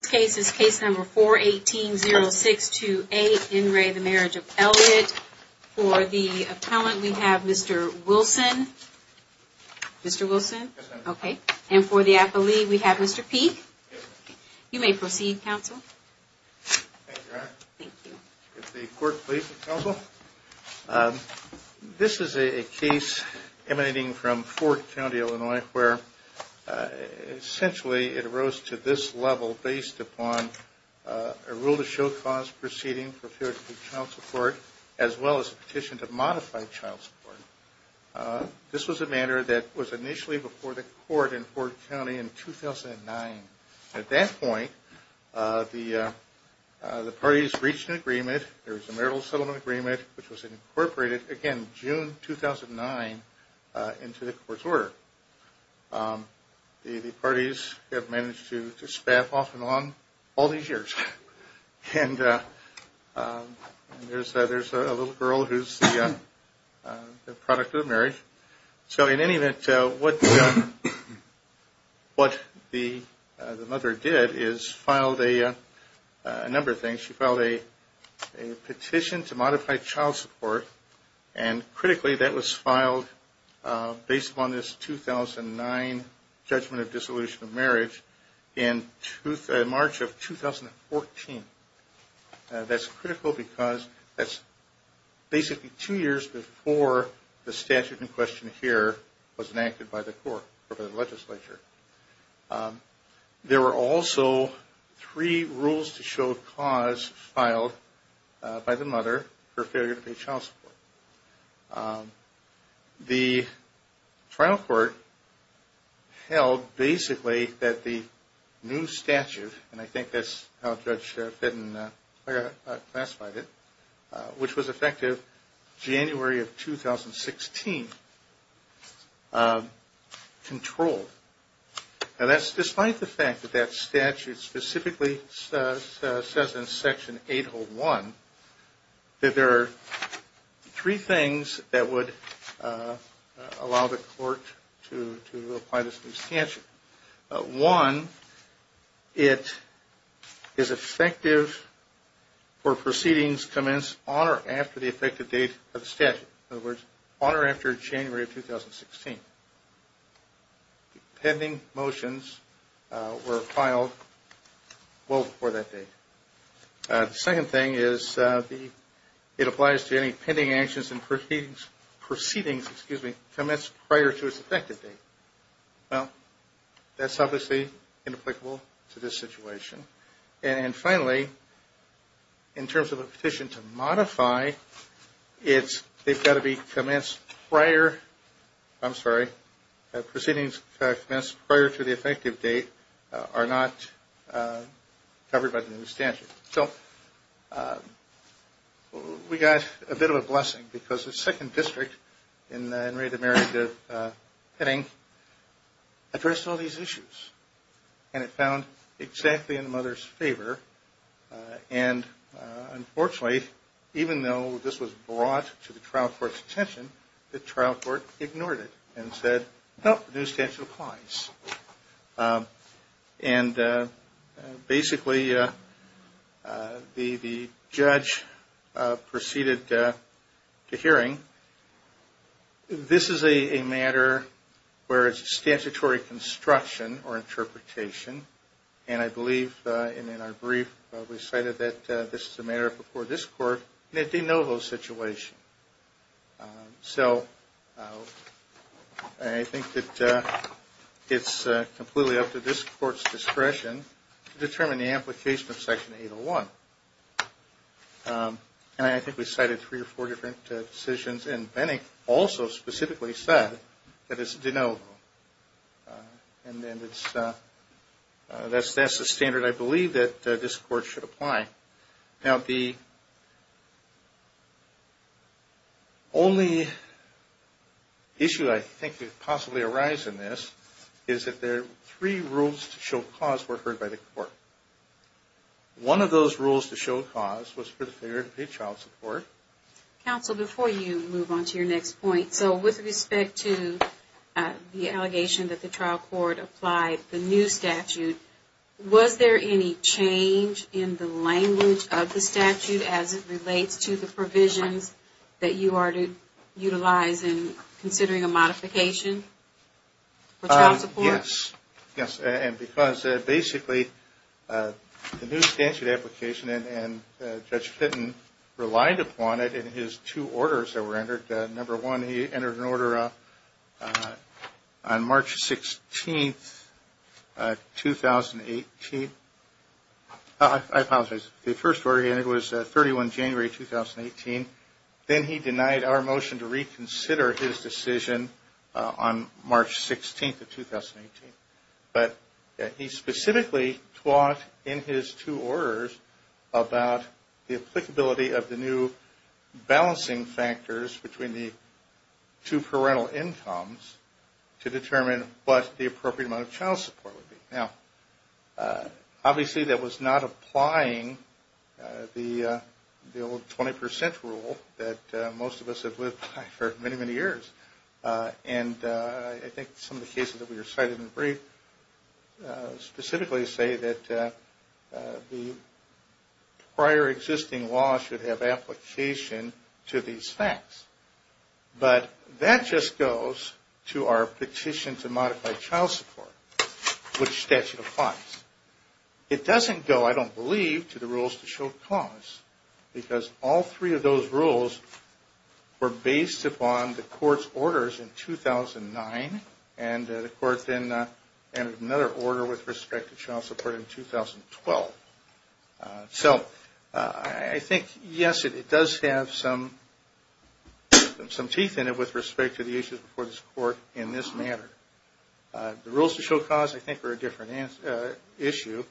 This case is case number 418-0628, In re the Marriage of Elliott. For the appellant, we have Mr. Wilson. Mr. Wilson, okay. And for the appellee, we have Mr. Peek. You may proceed, counsel. Thank you. If the court pleases, counsel. This is a case emanating from Fort County, Illinois, where, essentially, it arose to this level based upon a rule to show cause proceeding for failure to provide child support, as well as a petition to modify child support. This was a matter that was initially before the court in Fort County in 2009. At that point, the parties reached an agreement, there was a marital settlement agreement, which was incorporated, again, June 2009, into the court's order. The parties have managed to spaff off and on all these years. And there's a little girl who's the product of the marriage. So, in any event, what the mother did is filed a number of things. She filed a petition to modify child support. And, critically, that was filed based upon this 2009 judgment of dissolution of marriage in March of 2014. That's critical because that's basically two years before the statute in question here was enacted by the court or by the legislature. There were also three rules to show cause filed by the mother for failure to pay child support. The trial court held, basically, that the new statute, and I think that's how Judge Fitton classified it, which was effective January of 2016, controlled. Now, that's despite the fact that that statute specifically says in Section 801 that there are three things that would allow the court to apply this new statute. One, it is effective for proceedings commenced on or after the effective date of the statute. In other words, on or after January of 2016. Pending motions were filed well before that date. The second thing is it applies to any pending actions and proceedings commenced prior to its effective date. Well, that's obviously inapplicable to this situation. And, finally, in terms of a petition to modify, it's, they've got to be commenced prior. I'm sorry. Proceedings commenced prior to the effective date are not covered by the new statute. So, we got a bit of a blessing because the second district in the In Re Demerita Petting addressed all these issues. And it found exactly in the mother's favor. And, unfortunately, even though this was brought to the trial court's attention, the trial court ignored it and said, nope, the new statute applies. And, basically, the judge proceeded to hearing, this is a matter where it's a statutory construction or interpretation. And I believe, in our brief, we cited that this is a matter before this court, and it didn't know those situations. So, I think that it's completely up to this court's discretion to determine the application of Section 801. And I think we cited three or four different decisions, and Benning also specifically said that it's denial. And then it's, that's the standard, I believe, that this court should apply. Now, the only issue I think could possibly arise in this is that there are three rules to show cause were heard by the court. One of those rules to show cause was for the failure to pay child support. Counsel, before you move on to your next point, so with respect to the allegation that the trial court applied the new statute, was there any change in the language of the statute as it relates to the provisions that you are to utilize in considering a modification for child support? Yes. Yes. And because, basically, the new statute application, and Judge Fitton relied upon it in his two orders that were entered. Number one, he entered an order on March 16th, 2018. I apologize. The first order he entered was 31 January, 2018. Then he denied our motion to reconsider his decision on March 16th of 2018. But he specifically talked in his two orders about the applicability of the new balancing factors between the two parental incomes to determine what the appropriate amount of child support would be. Now, obviously, that was not applying the old 20% rule that most of us have lived by for many, many years. And I think some of the cases that we recited in the brief specifically say that the prior existing law should have application to these facts. But that just goes to our petition to modify child support, which statute applies. It doesn't go, I don't believe, to the rules to show cause. Because all three of those rules were based upon the court's orders in 2009. And the court then entered another order with respect to child support in 2012. So, I think, yes, it does have some teeth in it with respect to the issues before this court in this matter. The rules to show cause, I think, are a different issue.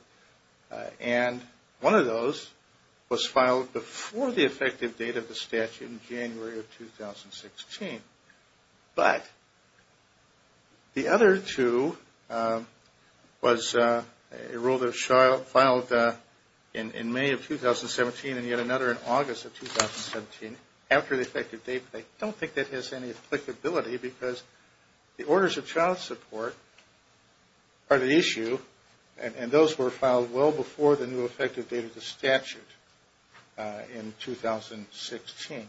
And one of those was filed before the effective date of the statute in January of 2016. But the other two was a rule that was filed in May of 2017 and yet another in August of 2017 after the effective date. I don't think that has any applicability because the orders of child support are the issue. And those were filed well before the new effective date of the statute in 2016.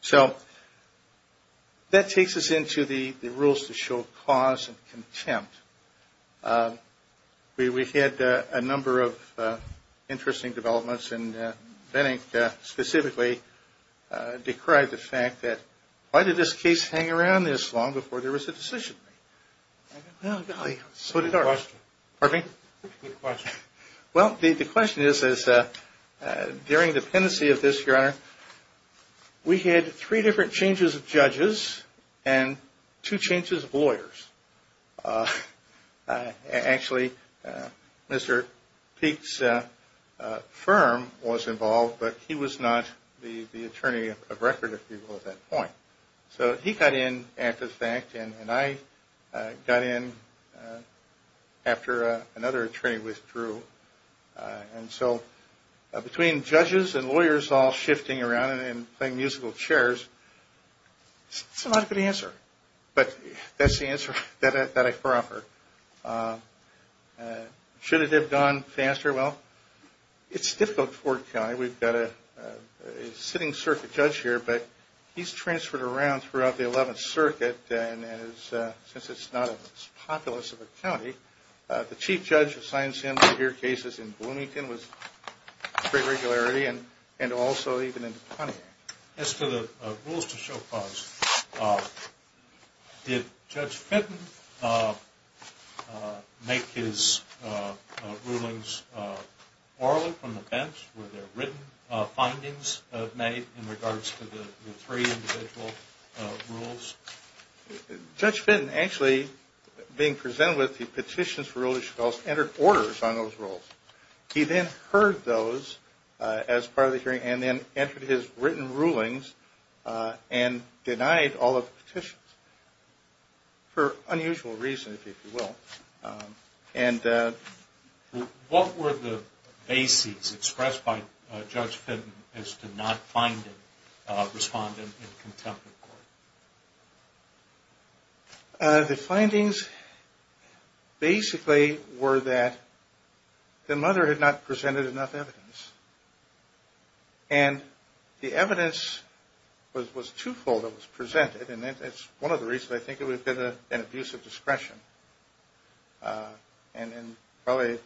So, that takes us into the rules to show cause and contempt. We had a number of interesting developments. And Bennink specifically decried the fact that why did this case hang around this long before there was a decision made? Well, golly, so did ours. Good question. Pardon me? Good question. Well, the question is, during the pendency of this, Your Honor, we had three different changes of judges and two changes of lawyers. Actually, Mr. Peek's firm was involved, but he was not the attorney of record, if you will, at that point. So, he got in after the fact and I got in after another attorney withdrew. And so, between judges and lawyers all shifting around and playing musical chairs, it's not a good answer. But that's the answer that I offer. Should it have gone faster? Well, it's difficult for the county. We've got a sitting circuit judge here, but he's transferred around throughout the 11th Circuit and since it's not as populous of a county, the chief judge assigns him to hear cases in Bloomington with great regularity and also even in the county. As to the rules to show clause, did Judge Fenton make his rulings orally from the bench? Were there written findings made in regards to the three individual rules? Judge Fenton actually, being presented with the petitions for rules, he entered orders on those rules. He then heard those as part of the hearing and then entered his written rulings and denied all of the petitions for unusual reasons, if you will. What were the bases expressed by Judge Fenton as to not finding a respondent in contempt of court? The findings basically were that the mother had not presented enough evidence and the evidence was two-fold. It was presented and that's one of the reasons I think it would have been an abuse of discretion. And probably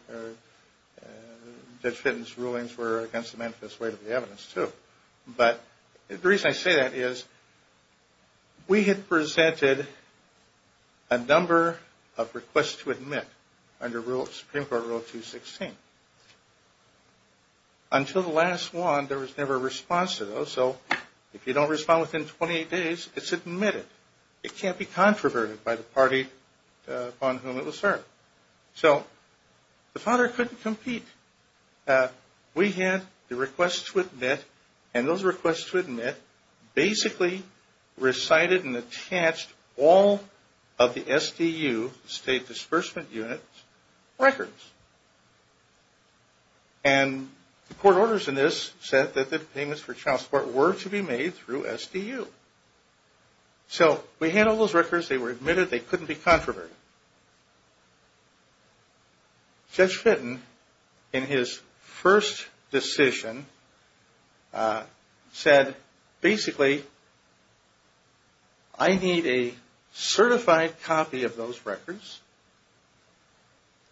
Judge Fenton's rulings were against the manifest weight of the evidence, too. But the reason I say that is we had presented a number of requests to admit under Supreme Court Rule 216. Until the last one, there was never a response to those. So if you don't respond within 28 days, it's admitted. It can't be controverted by the party upon whom it was served. So the father couldn't compete. We had the requests to admit and those requests to admit basically recited and attached all of the SDU, State Disbursement Unit, records. And the court orders in this said that the payments for child support were to be made through SDU. So we had all those records, they were admitted, they couldn't be controverted. Judge Fenton, in his first decision, said basically, I need a certified copy of those records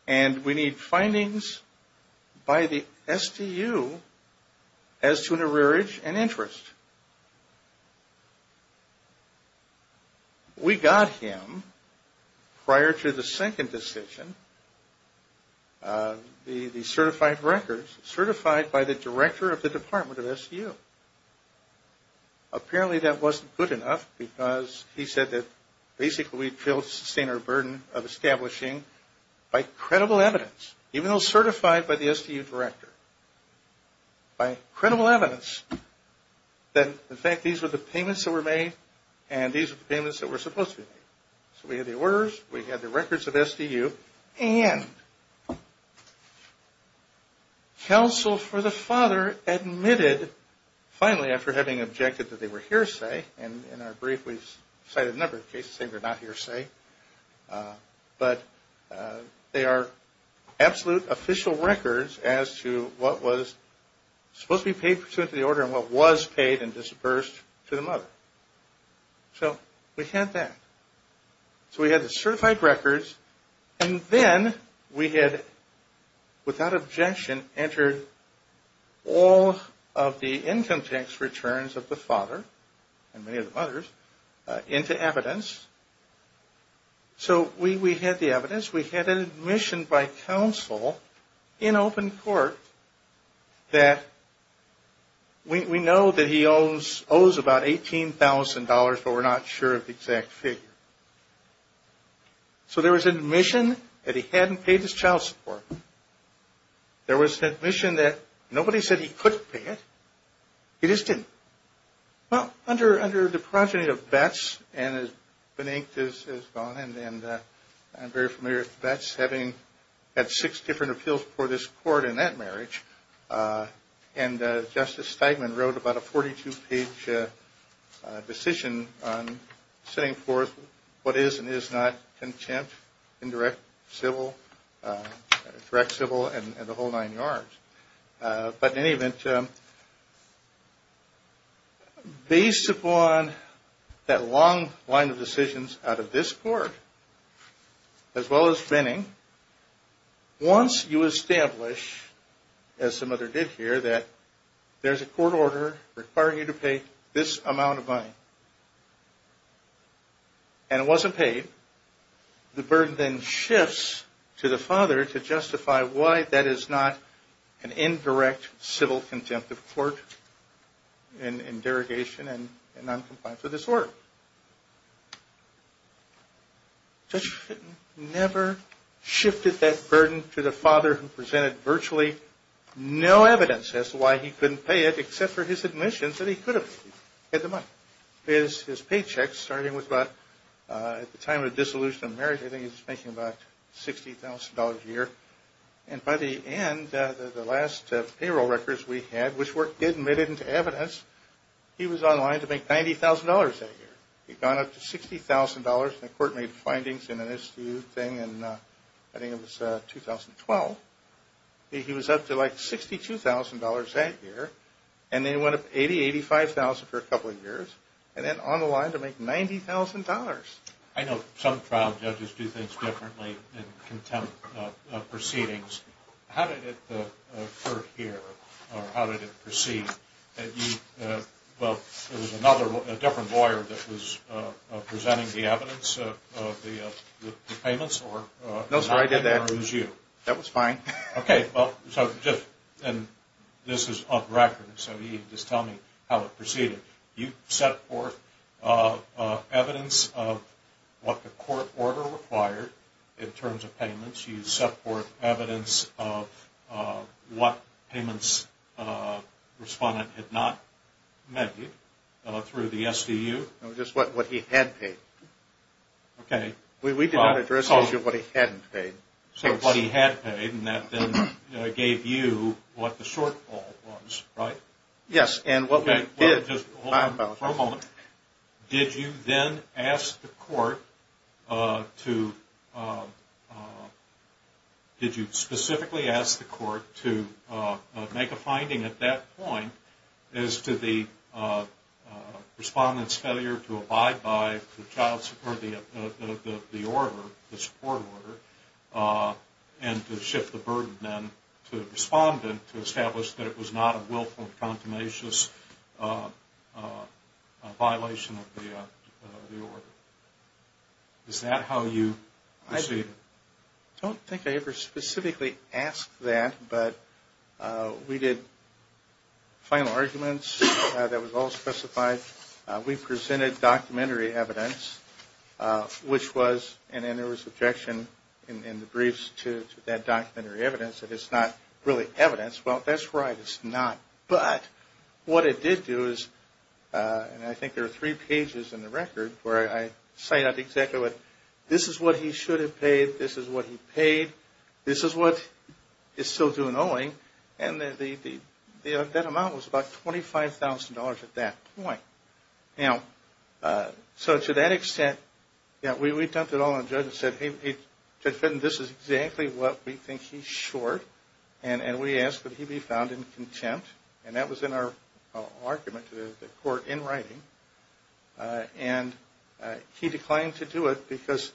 and we need findings by the SDU as to an arrearage and interest. We got him, prior to the second decision, the certified records, certified by the director of the Department of SDU. Apparently that wasn't good enough because he said that basically we'd fail to sustain our burden of establishing by credible evidence, even though certified by the SDU director. By credible evidence that in fact these were the payments that were made and these were the payments that were supposed to be made. So we had the orders, we had the records of SDU, and counsel for the father admitted, finally after having objected that they were hearsay, and in our brief we've cited a number of cases saying they're not hearsay, but they are absolute official records as to what was supposed to be paid pursuant to the order and what was paid and disbursed to the mother. So we had that. So we had the certified records, and then we had, without objection, entered all of the income tax returns of the father, and many of the mothers, into evidence. So we had the evidence. We had an admission by counsel in open court that we know that he owes about $18,000, but we're not sure of the exact figure. So there was an admission that he hadn't paid his child support. There was an admission that nobody said he couldn't pay it. He just didn't. Well, under the progeny of Betz, and Benink has gone, and I'm very familiar with Betz, having had six different appeals before this court in that marriage, and Justice Steigman wrote about a 42-page decision on setting forth what is and is not contempt, indirect, civil, direct civil, and the whole nine yards. But in any event, based upon that long line of decisions out of this court, as well as Benink, once you establish, as the mother did here, that there's a court order requiring you to pay this amount of money, and it wasn't paid, the burden then shifts to the father to justify why that is not an indirect, civil contempt of court in derogation and noncompliance of this order. Judge Fitton never shifted that burden to the father who presented virtually no evidence as to why he couldn't pay it, except for his admissions that he could have paid the money. His paychecks, starting with about, at the time of dissolution of marriage, I think he was making about $60,000 a year, and by the end, the last payroll records we had, which were admitted into evidence, he was on the line to make $90,000 that year. He'd gone up to $60,000, and the court made findings in an issue thing in, I think it was 2012, that he was up to like $62,000 that year, and then went up $80,000, $85,000 for a couple of years, and then on the line to make $90,000. I know some trial judges do things differently in contempt proceedings. How did it occur here, or how did it proceed, that you, well, there was another, a different lawyer that was presenting the evidence of the payments? No sir, I did that. That was fine. Okay, well, so just, and this is on record, so you can just tell me how it proceeded. You set forth evidence of what the court order required in terms of payments. You set forth evidence of what payments the respondent had not made through the SDU. No, just what he had paid. Okay. We did not address the issue of what he hadn't paid. So what he had paid, and that then gave you what the shortfall was, right? Yes, and what we did... Did you then ask the court to did you specifically ask the court to make a finding at that point as to the respondent's failure to abide by the child support, the order, the support order and to shift the burden then to the respondent to establish that it was not a willful and contumacious violation of the order. Is that how you proceeded? I don't think I ever specifically asked that, but we did final arguments. That was all specified. We presented documentary evidence, which was and then there was objection in the briefs to that documentary evidence that it's not really evidence. Well, that's right, it's not, but what it did do is, and I think there are three pages in the record where I cite out exactly what, this is what he should have paid, this is what he paid, this is what he's still doing owing and that amount was about $25,000 at that point. So to that extent we dumped it all on the judge and said, hey, Judge Fenton, this is exactly what we think he's short and we asked that he be found in contempt and that was in our argument to the court in writing and he declined to do it because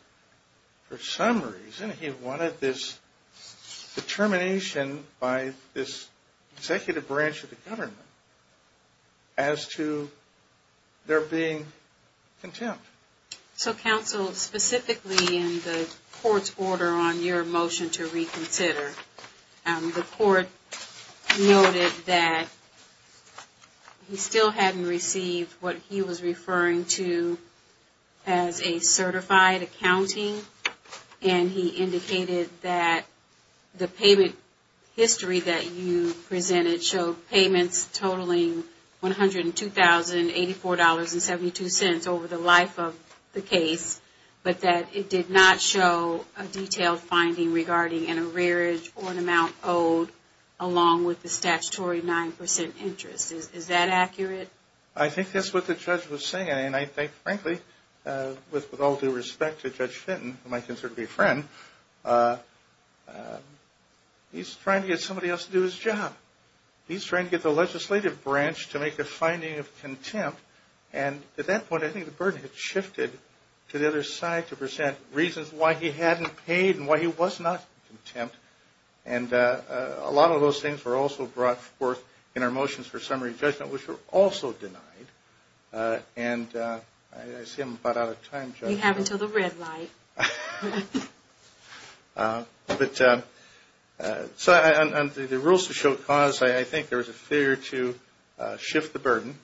for some reason he wanted this determination by this executive branch of the government as to their being contempt. So counsel, specifically in the court's order on your motion to reconsider the court noted that he still hadn't received what he was referring to as a certified accounting and he indicated that the payment history that you presented showed payments totaling $102,084.72 over the life of the case but that it did not show a detailed finding regarding an arrearage or an amount owed along with the statutory 9% interest. Is that accurate? I think that's what the judge was saying and I think, frankly, with all due respect to Judge Fenton, who I consider to be a friend, he's trying to get somebody else to do his job. He's trying to get the legislative branch to make a finding of contempt and at that point I think the burden had shifted to the other side to present reasons why he hadn't paid and why he was not in contempt and a lot of those things were also brought forth in our motions for summary judgment which were also denied and I see I'm about out of time, Judge. You have until the red light. But on the rules to show cause, I think there was a fear to shift the burden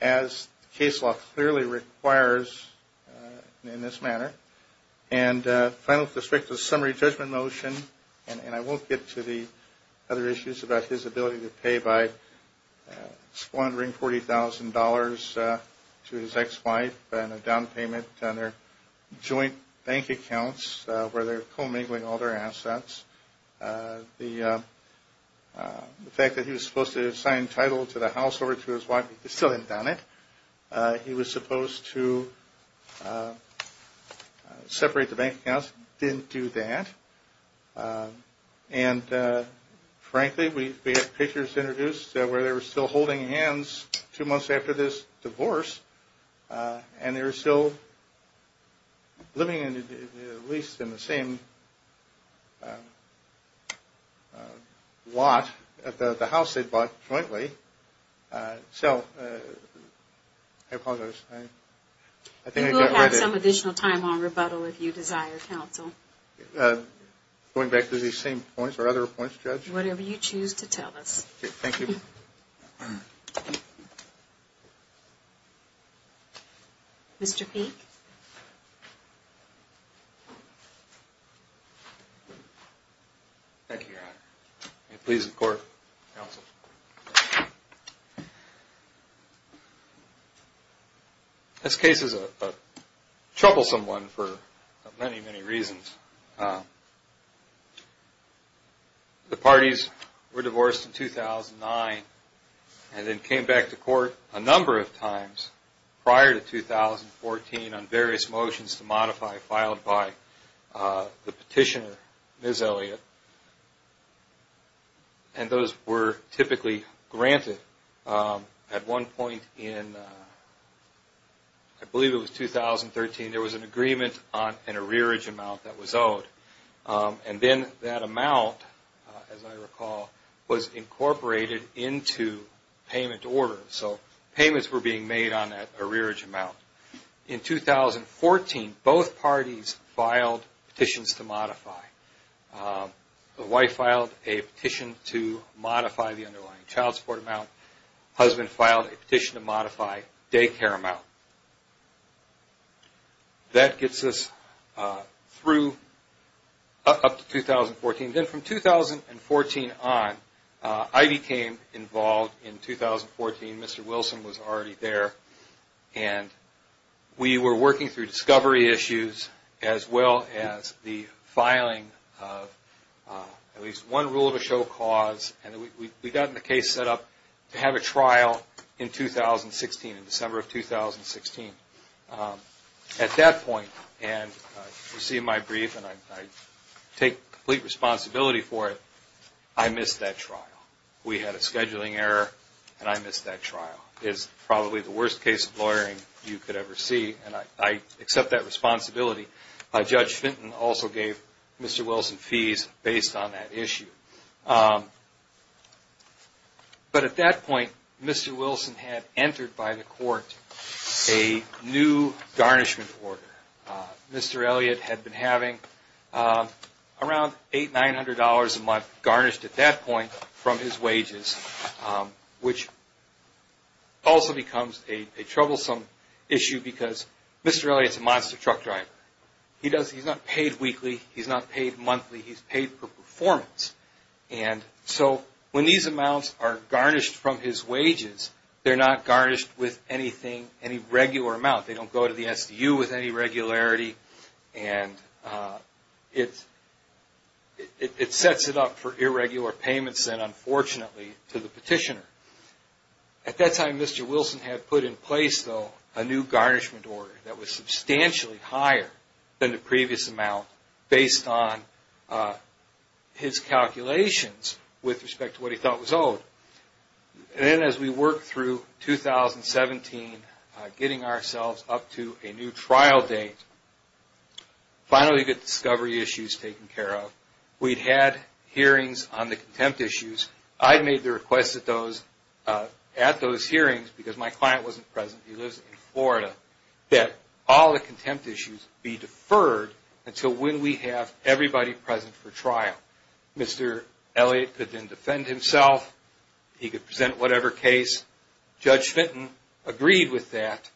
as the case law clearly requires in this manner and finally with respect to the summary judgment motion and I won't get to the other issues about his ability to pay by squandering $40,000 to his ex-wife and a down payment on their joint bank accounts where they're commingling all their assets. The fact that he was supposed to sign title to the house over to his wife, he still hadn't done it. He was supposed to separate the bank accounts, didn't do that and frankly we have pictures introduced where they were still holding hands two months after this divorce and they were still living in at least in the same lot, the house they bought jointly, so I apologize. You will have some additional time on rebuttal if you desire counsel. Going back to these same points or other points, Judge? Whatever you choose to tell us. Thank you. Mr. Peek. Thank you. This case is a troublesome one for many, many reasons. The parties were divorced in 2009 and then came back to court a number of times prior to 2014 on various motions to modify filed by the petitioner, Ms. Elliott, and those were typically granted. At one point in, I believe it was 2013, there was an agreement on an arrearage amount that was owed and then that amount, as I recall, was incorporated into payment order, so payments were being made on that arrearage amount. In 2014, both parties filed petitions to modify. The wife filed a petition to modify the underlying child support amount. The husband filed a petition to modify daycare amount. That gets us through up to 2014. Then from 2014 on, I became involved in 2014. Mr. Wilson was already there and we were working through discovery issues as well as the filing of at least one rule to show cause and we got the case set up to have a trial in 2016, in December of 2016. At that point, and you see my brief and I take complete responsibility for it, I missed that trial. We had a scheduling error and I missed that trial. It's probably the worst case of lawyering you could ever see. I accept that responsibility. Judge Fenton also gave Mr. Wilson fees based on that issue. At that point, Mr. Wilson had entered by the court a new garnishment order. Mr. Elliott had been having around $800, $900 a month garnished at that point from his wages which also becomes a troublesome issue because Mr. Elliott is a monster truck driver. He's not paid weekly. He's not paid monthly. He's paid per performance. When these amounts are garnished from his wages, they're not garnished with any regular amount. They don't go to the SDU with any regularity. It sets it up for the petitioner. At that time, Mr. Wilson had put in place a new garnishment order that was substantially higher than the previous amount based on his calculations with respect to what he thought was owed. As we worked through 2017, getting ourselves up to a new trial date, finally discovery issues taken care of. We'd had hearings on the contempt issues. I'd made the request at those hearings because my client wasn't present. He lives in Florida, that all the contempt issues be deferred until when we have everybody present for trial. Mr. Elliott could then defend himself. He could present whatever case. Judge Fenton agreed with that.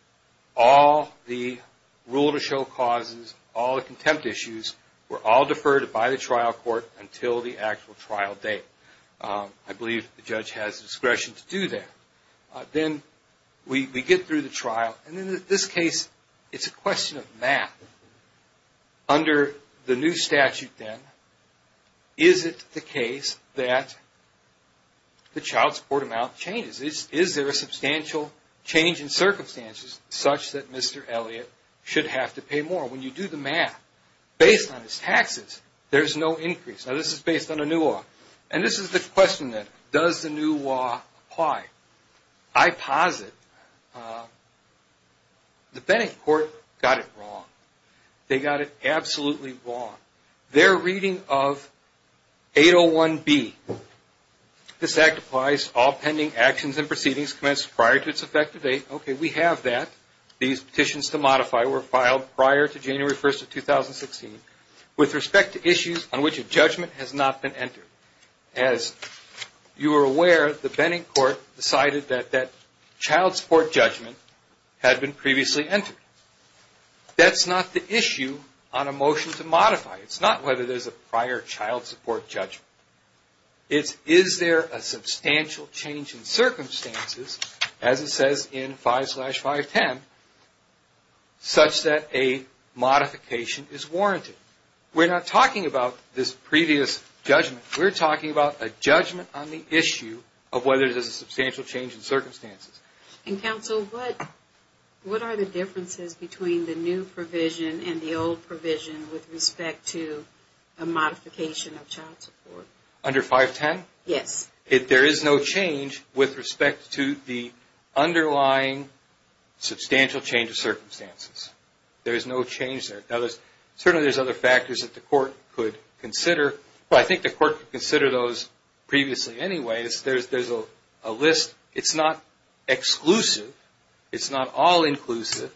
All the rule to show causes, all the contempt issues were all deferred by the trial court until the actual trial date. I believe the judge has discretion to do that. Then we get through the trial. In this case, it's a question of math. Under the new statute then, is it the case that the child support amount changes? Is there a substantial change in circumstances such that Mr. Elliott should have to pay more? When you do the math, based on his taxes, there's no increase. This is based on the new law. This is the question then, does the new law apply? I posit the court got it wrong. They got it absolutely wrong. Their reading of 801B, this act applies all pending actions and proceedings commenced prior to its effective date. We have that. These petitions to modify were filed prior to January 1st of 2016 with respect to issues on which a judgment has not been entered. As you are aware, the Benning Court decided that that child support judgment had been previously entered. That's not the issue on a motion to modify. It's not whether there's a prior child support judgment. It's is there a substantial change in circumstances, as it says in 5-510, such that a modification is warranted. We're not talking about this previous judgment. We're talking about a judgment on the issue of whether there's a substantial change in circumstances. And counsel, what are the differences between the new provision and the old provision with respect to a modification of child support? Under 510? Yes. If there is no change with respect to the underlying substantial change of circumstances. There is no change there. Certainly there's other factors that the court could consider. I think the court could consider those previously anyway. There's a list. It's not exclusive. It's not all inclusive.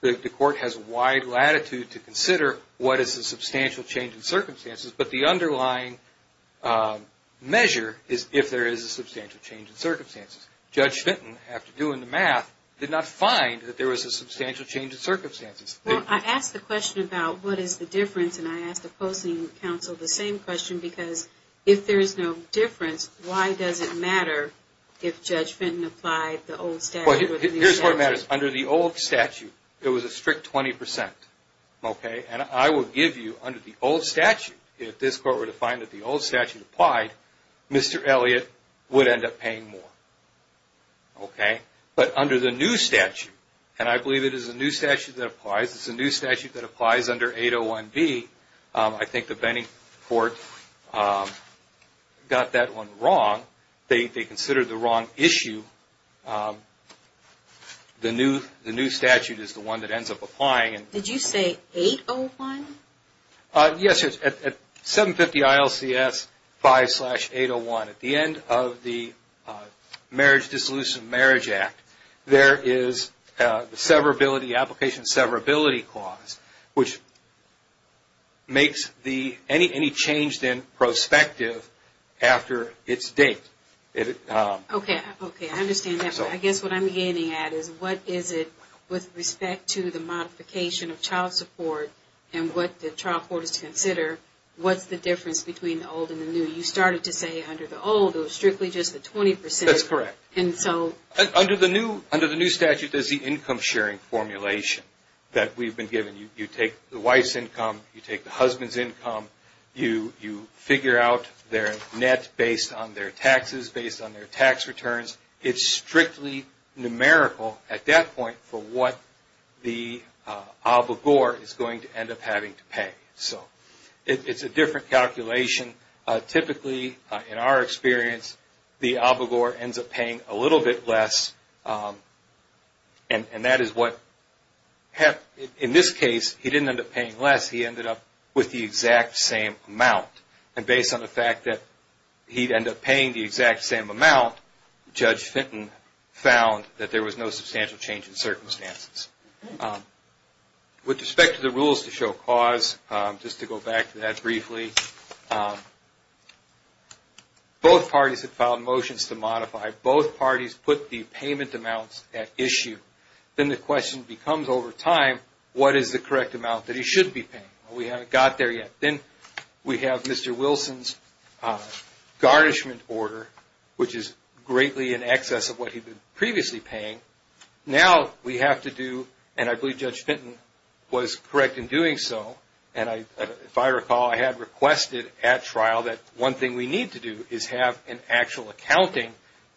The court has wide latitude to consider what is a substantial change in circumstances, but the underlying measure is if there is a substantial change in circumstances. Judge Fenton, after doing the math, did not find that there was a substantial change in circumstances. Well, I asked the question about what is the difference and I asked opposing counsel the same question because if there is no difference, why does it matter if Judge Fenton applied the old statute? Here's where it matters. Under the old statute, there was a strict 20%. Okay? And I will give you, under the old statute, if this court were to find that the old statute applied, Mr. Elliott would end up paying more. Okay? But under the new statute, and I believe it is a new statute that applies, it's a new statute that applies under 801B, I think the Benning Court got that one wrong. They considered the wrong issue. The new statute is the one that ends up applying. Did you say 801? Yes, at 750 ILCS 5-801. At the end of the Marriage Dissolution of Marriage Act, there is the application severability clause, which makes any change in prospective after its date. Okay, I understand that. I guess what I'm getting at is what is it with respect to the modification of child support and what the trial court is to consider what's the difference between the old and the new. You started to say under the old it was strictly just the 20%. That's correct. And so... Under the new statute, there's the income sharing formulation that we've been given. You take the wife's income, you take the husband's income, you figure out their net based on their taxes, based on their tax returns. It's strictly numerical at that point for what the obligor is going to end up having to pay. It's a different calculation. Typically, in our experience, the obligor ends up paying a little bit less. And that is what in this case, he didn't end up paying less. He ended up with the exact same amount. And based on the fact that he'd end up paying the exact same amount, Judge Fenton found that there was no substantial change in circumstances. With respect to the rules to show cause, just to go back to that briefly, both parties have filed motions to modify. Both parties put the payment amounts at issue. Then the question becomes over time, what is the correct amount that he should be paying? We haven't got there yet. Then we have Mr. Wilson's garnishment order, which is greatly in excess of what he'd been previously paying. Now, we have to do, and I believe Judge Fenton was correct in doing so, and if I recall, I had requested at trial that one thing we need to do is have an actual accounting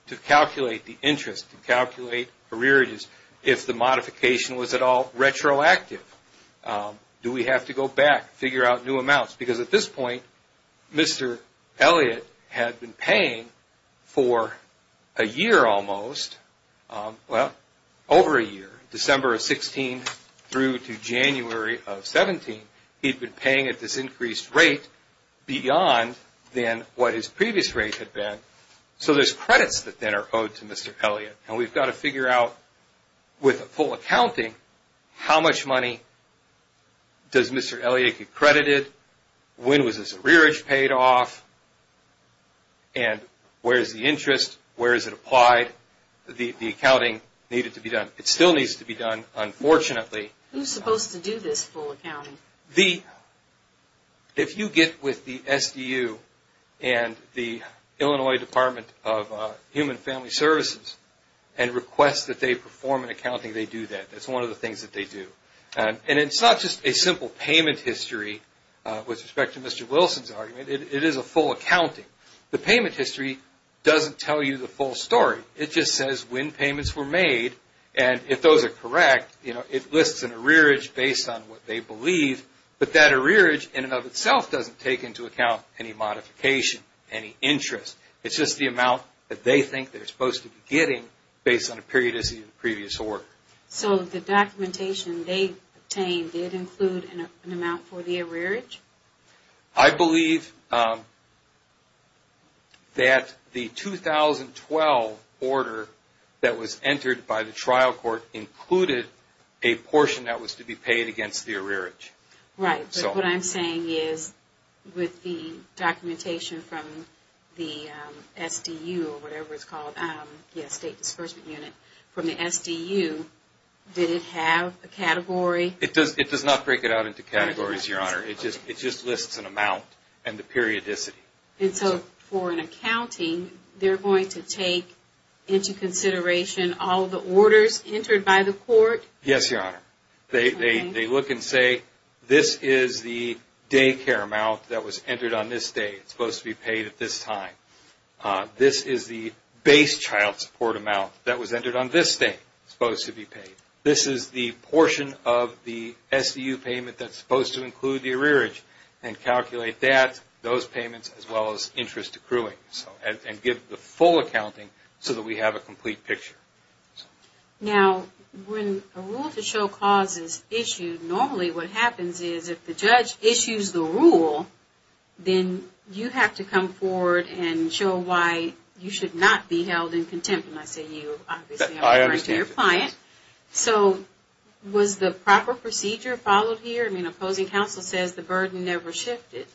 to calculate the interest, to calculate arrearages if the modification was at all retroactive. Do we have to go back, figure out new amounts? Because at this point, Mr. Elliott had been paying for a year almost. Well, over a year. December of 16 through to January of 17, he'd been paying at this increased rate beyond then what his previous rate had been. So there's credits that then are owed to Mr. Elliott. We've got to figure out, with full accounting, how much money does Mr. Elliott get credited? When was his arrearage paid off? And where is the interest? Where is it applied? The accounting needed to be done. It still needs to be done, unfortunately. Who's supposed to do this full accounting? If you get with the SDU and the Illinois Department of Human Family Services and request that they perform an accounting, they do that. That's one of the things that they do. And it's not just a simple payment history with respect to Mr. Wilson's argument. It is a full accounting. The payment history doesn't tell you the full story. It just says when payments were made and if those are correct, it lists an arrearage based on what they believe. But that arrearage in and of itself doesn't take into account any modification, any interest. It's just the amount that they think they're supposed to be getting based on a periodicity of the previous order. So the documentation they obtained did include an arrearage? I believe that the 2012 order that was entered by the trial court included a portion that was to be paid against the arrearage. Right. But what I'm saying is with the documentation from the SDU or whatever it's called, the State Disbursement Unit, from the SDU, did it have a category? It does not break it out into categories, Your Honor. It just lists an amount and the periodicity. And so for an accounting, they're going to take into consideration all the orders entered by the court? Yes, Your Honor. They look and say this is the daycare amount that was entered on this day. It's supposed to be paid at this time. This is the base child support amount that was entered on this day. It's supposed to be paid. This is the portion of the SDU payment that's supposed to include the arrearage. And calculate that, those payments, as well as interest accruing. And give the full accounting so that we have a complete picture. Now, when a rule to show cause is issued, normally what happens is if the judge issues the rule, then you have to come forward and show why you should not be held in contempt. And I say you obviously, I'm referring to your client. So, was the proper procedure followed here? I mean, opposing counsel says the burden never shifted.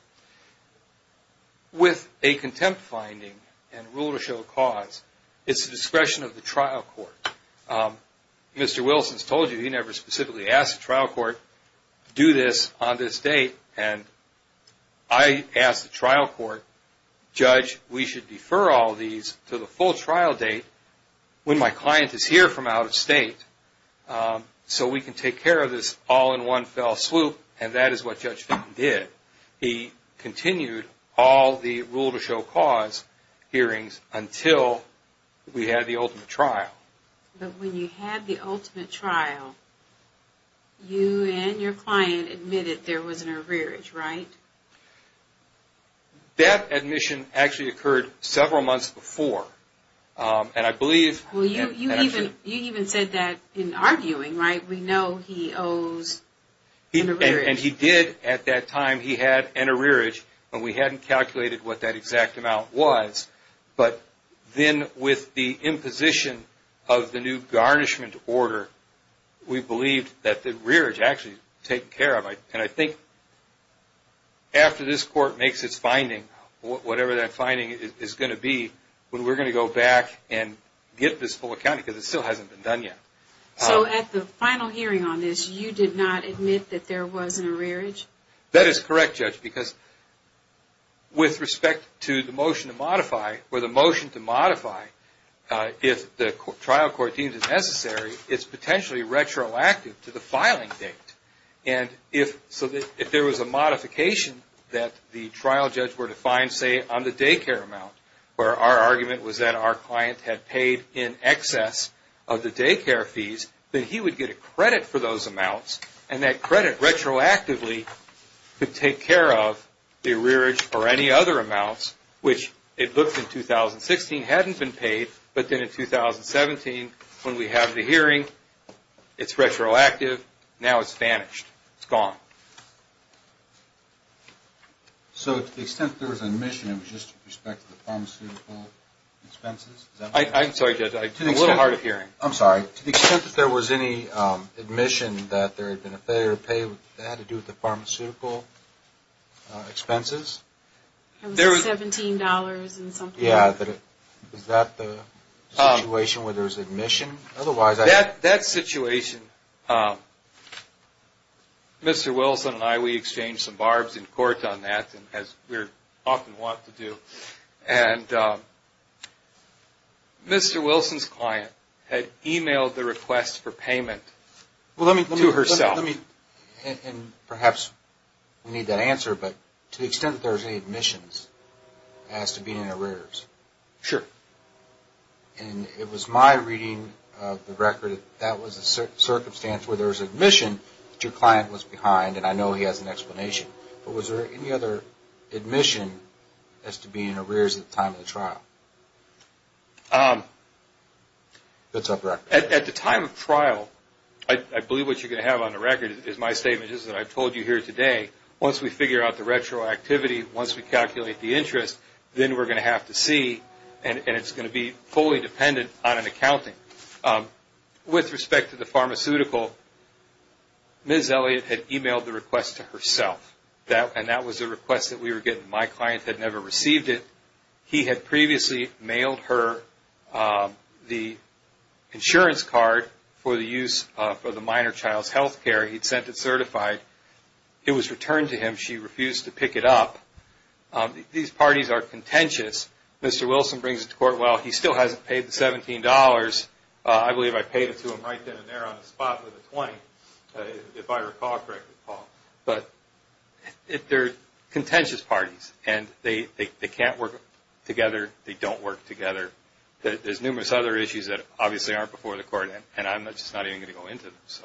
With a contempt finding and rule to show cause, it's the discretion of the trial court. Mr. Wilson's told you he never specifically asked the trial court to do this on this date. And I asked the trial court, Judge, we should defer all these to the full trial date when my client is here from out of state so we can take care of this all in one fell swoop. And that is what Judge Fink did. He continued all the rule to show cause hearings until we had the ultimate trial. But when you had the ultimate trial, you and your client admitted there was an arrearage, right? That admission actually happened several months before. You even said that in arguing, right? We know he owes an arrearage. And he did at that time. He had an arrearage and we hadn't calculated what that exact amount was. But then with the imposition of the new garnishment order, we believed that the arrearage actually was taken care of. And I think after this court makes its final decision, that's what our finding is going to be when we're going to go back and get this full account because it still hasn't been done yet. So at the final hearing on this, you did not admit that there was an arrearage? That is correct, Judge, because with respect to the motion to modify, if the trial court deems it necessary, it's potentially retroactive to the filing date. And so if there was a modification that the trial judge were to find, say, on the daycare amount where our argument was that our client had paid in excess of the daycare fees, then he would get a credit for those amounts and that credit retroactively could take care of the arrearage or any other amounts, which it looked in 2016 hadn't been paid, but then in 2017 when we have the hearing now. So to the extent that there was admission, it was just with respect to the pharmaceutical expenses? I'm sorry, Judge, I'm a little hard of hearing. I'm sorry. To the extent that there was any admission that there had been a failure to pay, that had to do with the pharmaceutical expenses? It was $17 and something. Yeah, but is that the situation where there was admission? That situation, Mr. Wilson and I, we exchanged some barbs in court on that, as we often want to do. And Mr. Wilson's client had emailed the request for payment to herself. And perhaps we need that answer, but to the extent that there was any admissions as to being arrears? Sure. And it was my reading of the circumstance where there was admission that your client was behind, and I know he has an explanation. But was there any other admission as to being arrears at the time of the trial? At the time of trial, I believe what you're going to have on the record is my statements that I've told you here today. Once we figure out the retroactivity, once we calculate the interest, then we're going to have to see, and it's going to be fully dependent on an accounting. With respect to the pharmaceutical, Ms. Elliott had emailed the request to herself, and that was a request that we were getting. My client had never received it. He had previously mailed her the insurance card for the use of the minor child's health care. He'd sent it certified. It was returned to him. She refused to pick it up. These parties are contentious. Mr. Wilson brings it to court, well, he still hasn't paid the $17. I believe I paid it to him right then and there on the spot with the $20, if I recall correctly, Paul. They're contentious parties, and they can't work together. They don't work together. There's numerous other issues that obviously aren't before the court, and I'm just not even going to go into them. So,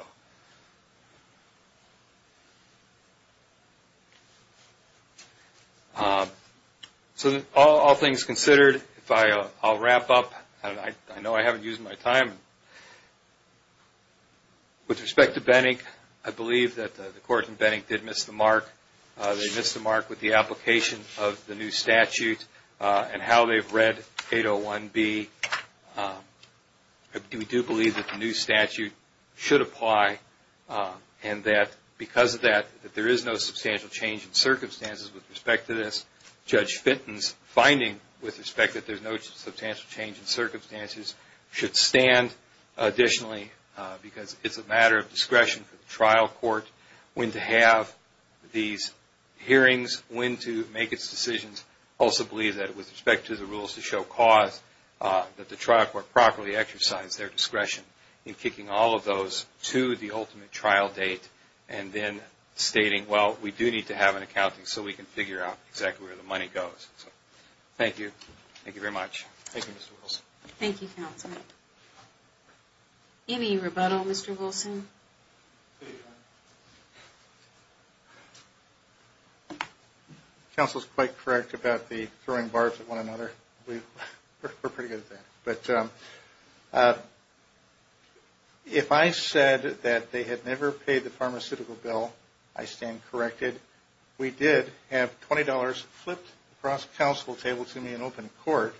all things considered, I'll wrap up. I know I haven't used my time. With respect to Benning, I believe that the court in Benning did miss the mark. They missed the mark with the application of the new statute and how they've read 801B. We do believe that the new statute should apply and that because of that, that there is no substantial change in circumstances with respect to this. Judge Fenton's finding with respect that there's no substantial change in circumstances should stand additionally because it's a matter of discretion for the trial court when to have these hearings, when to make its decisions. I also believe that with respect to the rules to show cause, that the trial court should properly exercise their discretion in kicking all of those to the ultimate trial date and then stating, well, we do need to have an accounting so we can figure out exactly where the money goes. Thank you. Thank you very much. Thank you, Mr. Wilson. Thank you, counsel. Any rebuttal, Mr. Wilson? Counsel is quite correct about the throwing barbs at one another. We're pretty good at that. If I said that they had never paid the pharmaceutical bill, I stand corrected. We did have $20 flipped across the counsel table to me in open court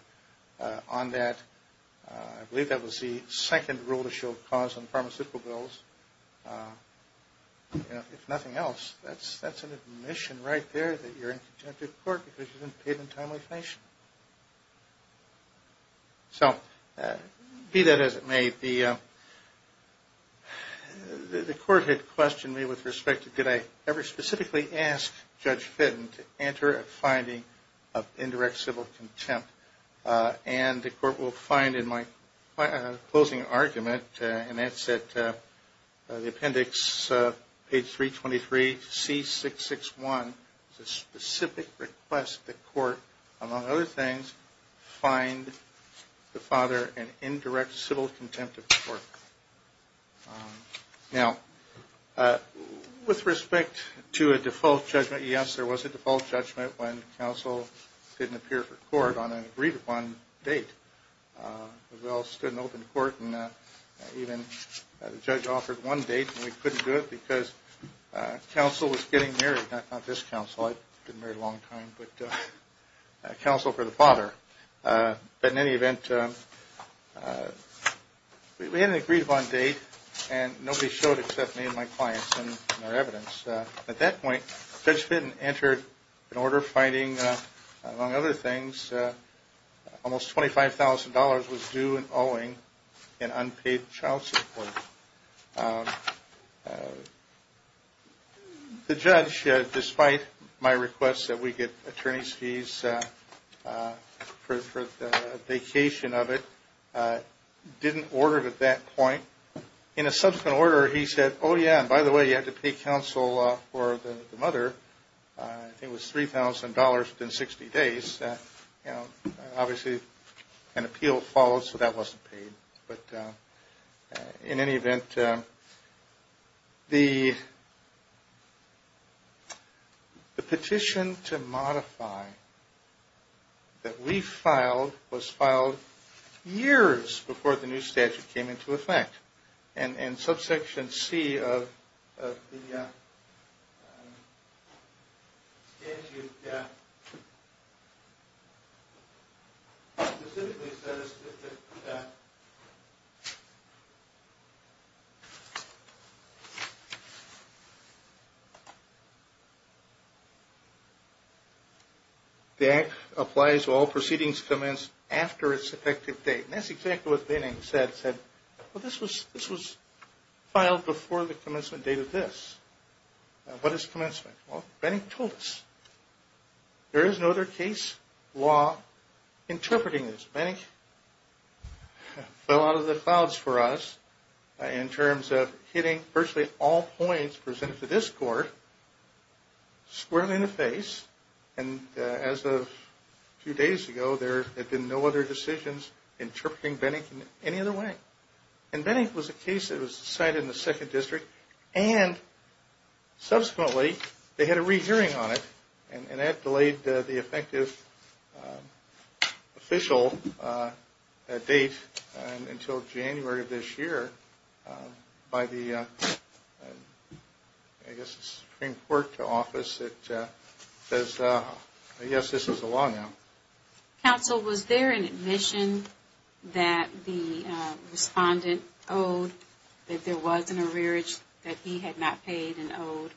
on that. I believe that was the second rule to show cause on pharmaceutical bills. If nothing else, that's an admission right there that you're in conjunctive court because you didn't pay it in a timely fashion. Be that as it may, the court had questioned me with respect to did I ever specifically ask Judge Fitton to enter a finding of indirect civil contempt. The court will find in my closing argument, and that's at the appendix page 323, C661, a specific request that court, among other things, find the father an indirect civil contempt of court. With respect to a default judgment, yes, there was a default judgment when counsel didn't appear for court on an agreed upon date. We all stood in open court and even the judge offered one date and we couldn't do it because counsel was getting married, not this counsel, I've been married a long time, but counsel for the father. But in any event, we had an agreed upon date and nobody showed except me and my clients and their evidence. At that point, Judge Fitton entered an order finding, among other things, almost $25,000 was due and owing in unpaid child support. The judge, despite my request that we get attorney's fees for the vacation of it, didn't order it at that point. In a subsequent order, he said, oh yeah, and by the way, you had to pay counsel for the mother. It was $3,000 within 60 days. Obviously, an appeal followed, so that wasn't paid. In any event, the petition to modify that we filed was filed years before the new statute came into effect. Subsection C of the statute specifically says that the act applies to all proceedings commenced after its effective date. That's exactly what Benning said. This was filed before the commencement date of this. What is commencement? Benning told us. There is no other case law interpreting this. Benning fell out of the clouds for us in terms of hitting virtually all points presented to this court squarely in the face and as of a few days ago, there had been no other decisions interpreting Benning in any other way. Benning was a case that was decided in the 2nd District and subsequently, they had a re-hearing on it and that delayed the effective official date until January of this year by the Supreme Court office that says, yes, this is a law now. Counsel, was there an admission that the respondent owed that there was an arrearage that he had not paid and owed?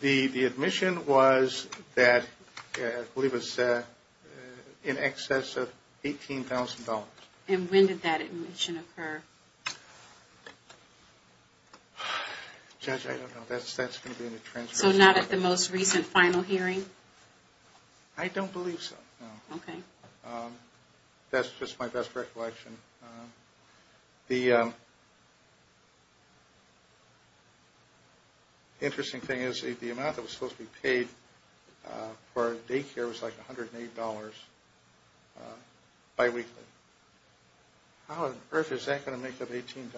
The admission was that it was in excess of $18,000. And when did that admission occur? Judge, I don't know. So not at the most recent final hearing? I don't believe so. That's just my best recollection. The interesting thing is the amount that was supposed to be paid for daycare was like $108 by weekly. How on earth is that going to make up $18,000?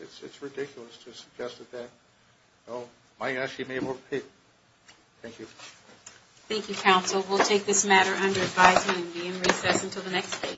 It's ridiculous to suggest that he may have overpaid. Thank you. Thank you, Counsel. We'll take this matter under advisement and be in recess until the next case.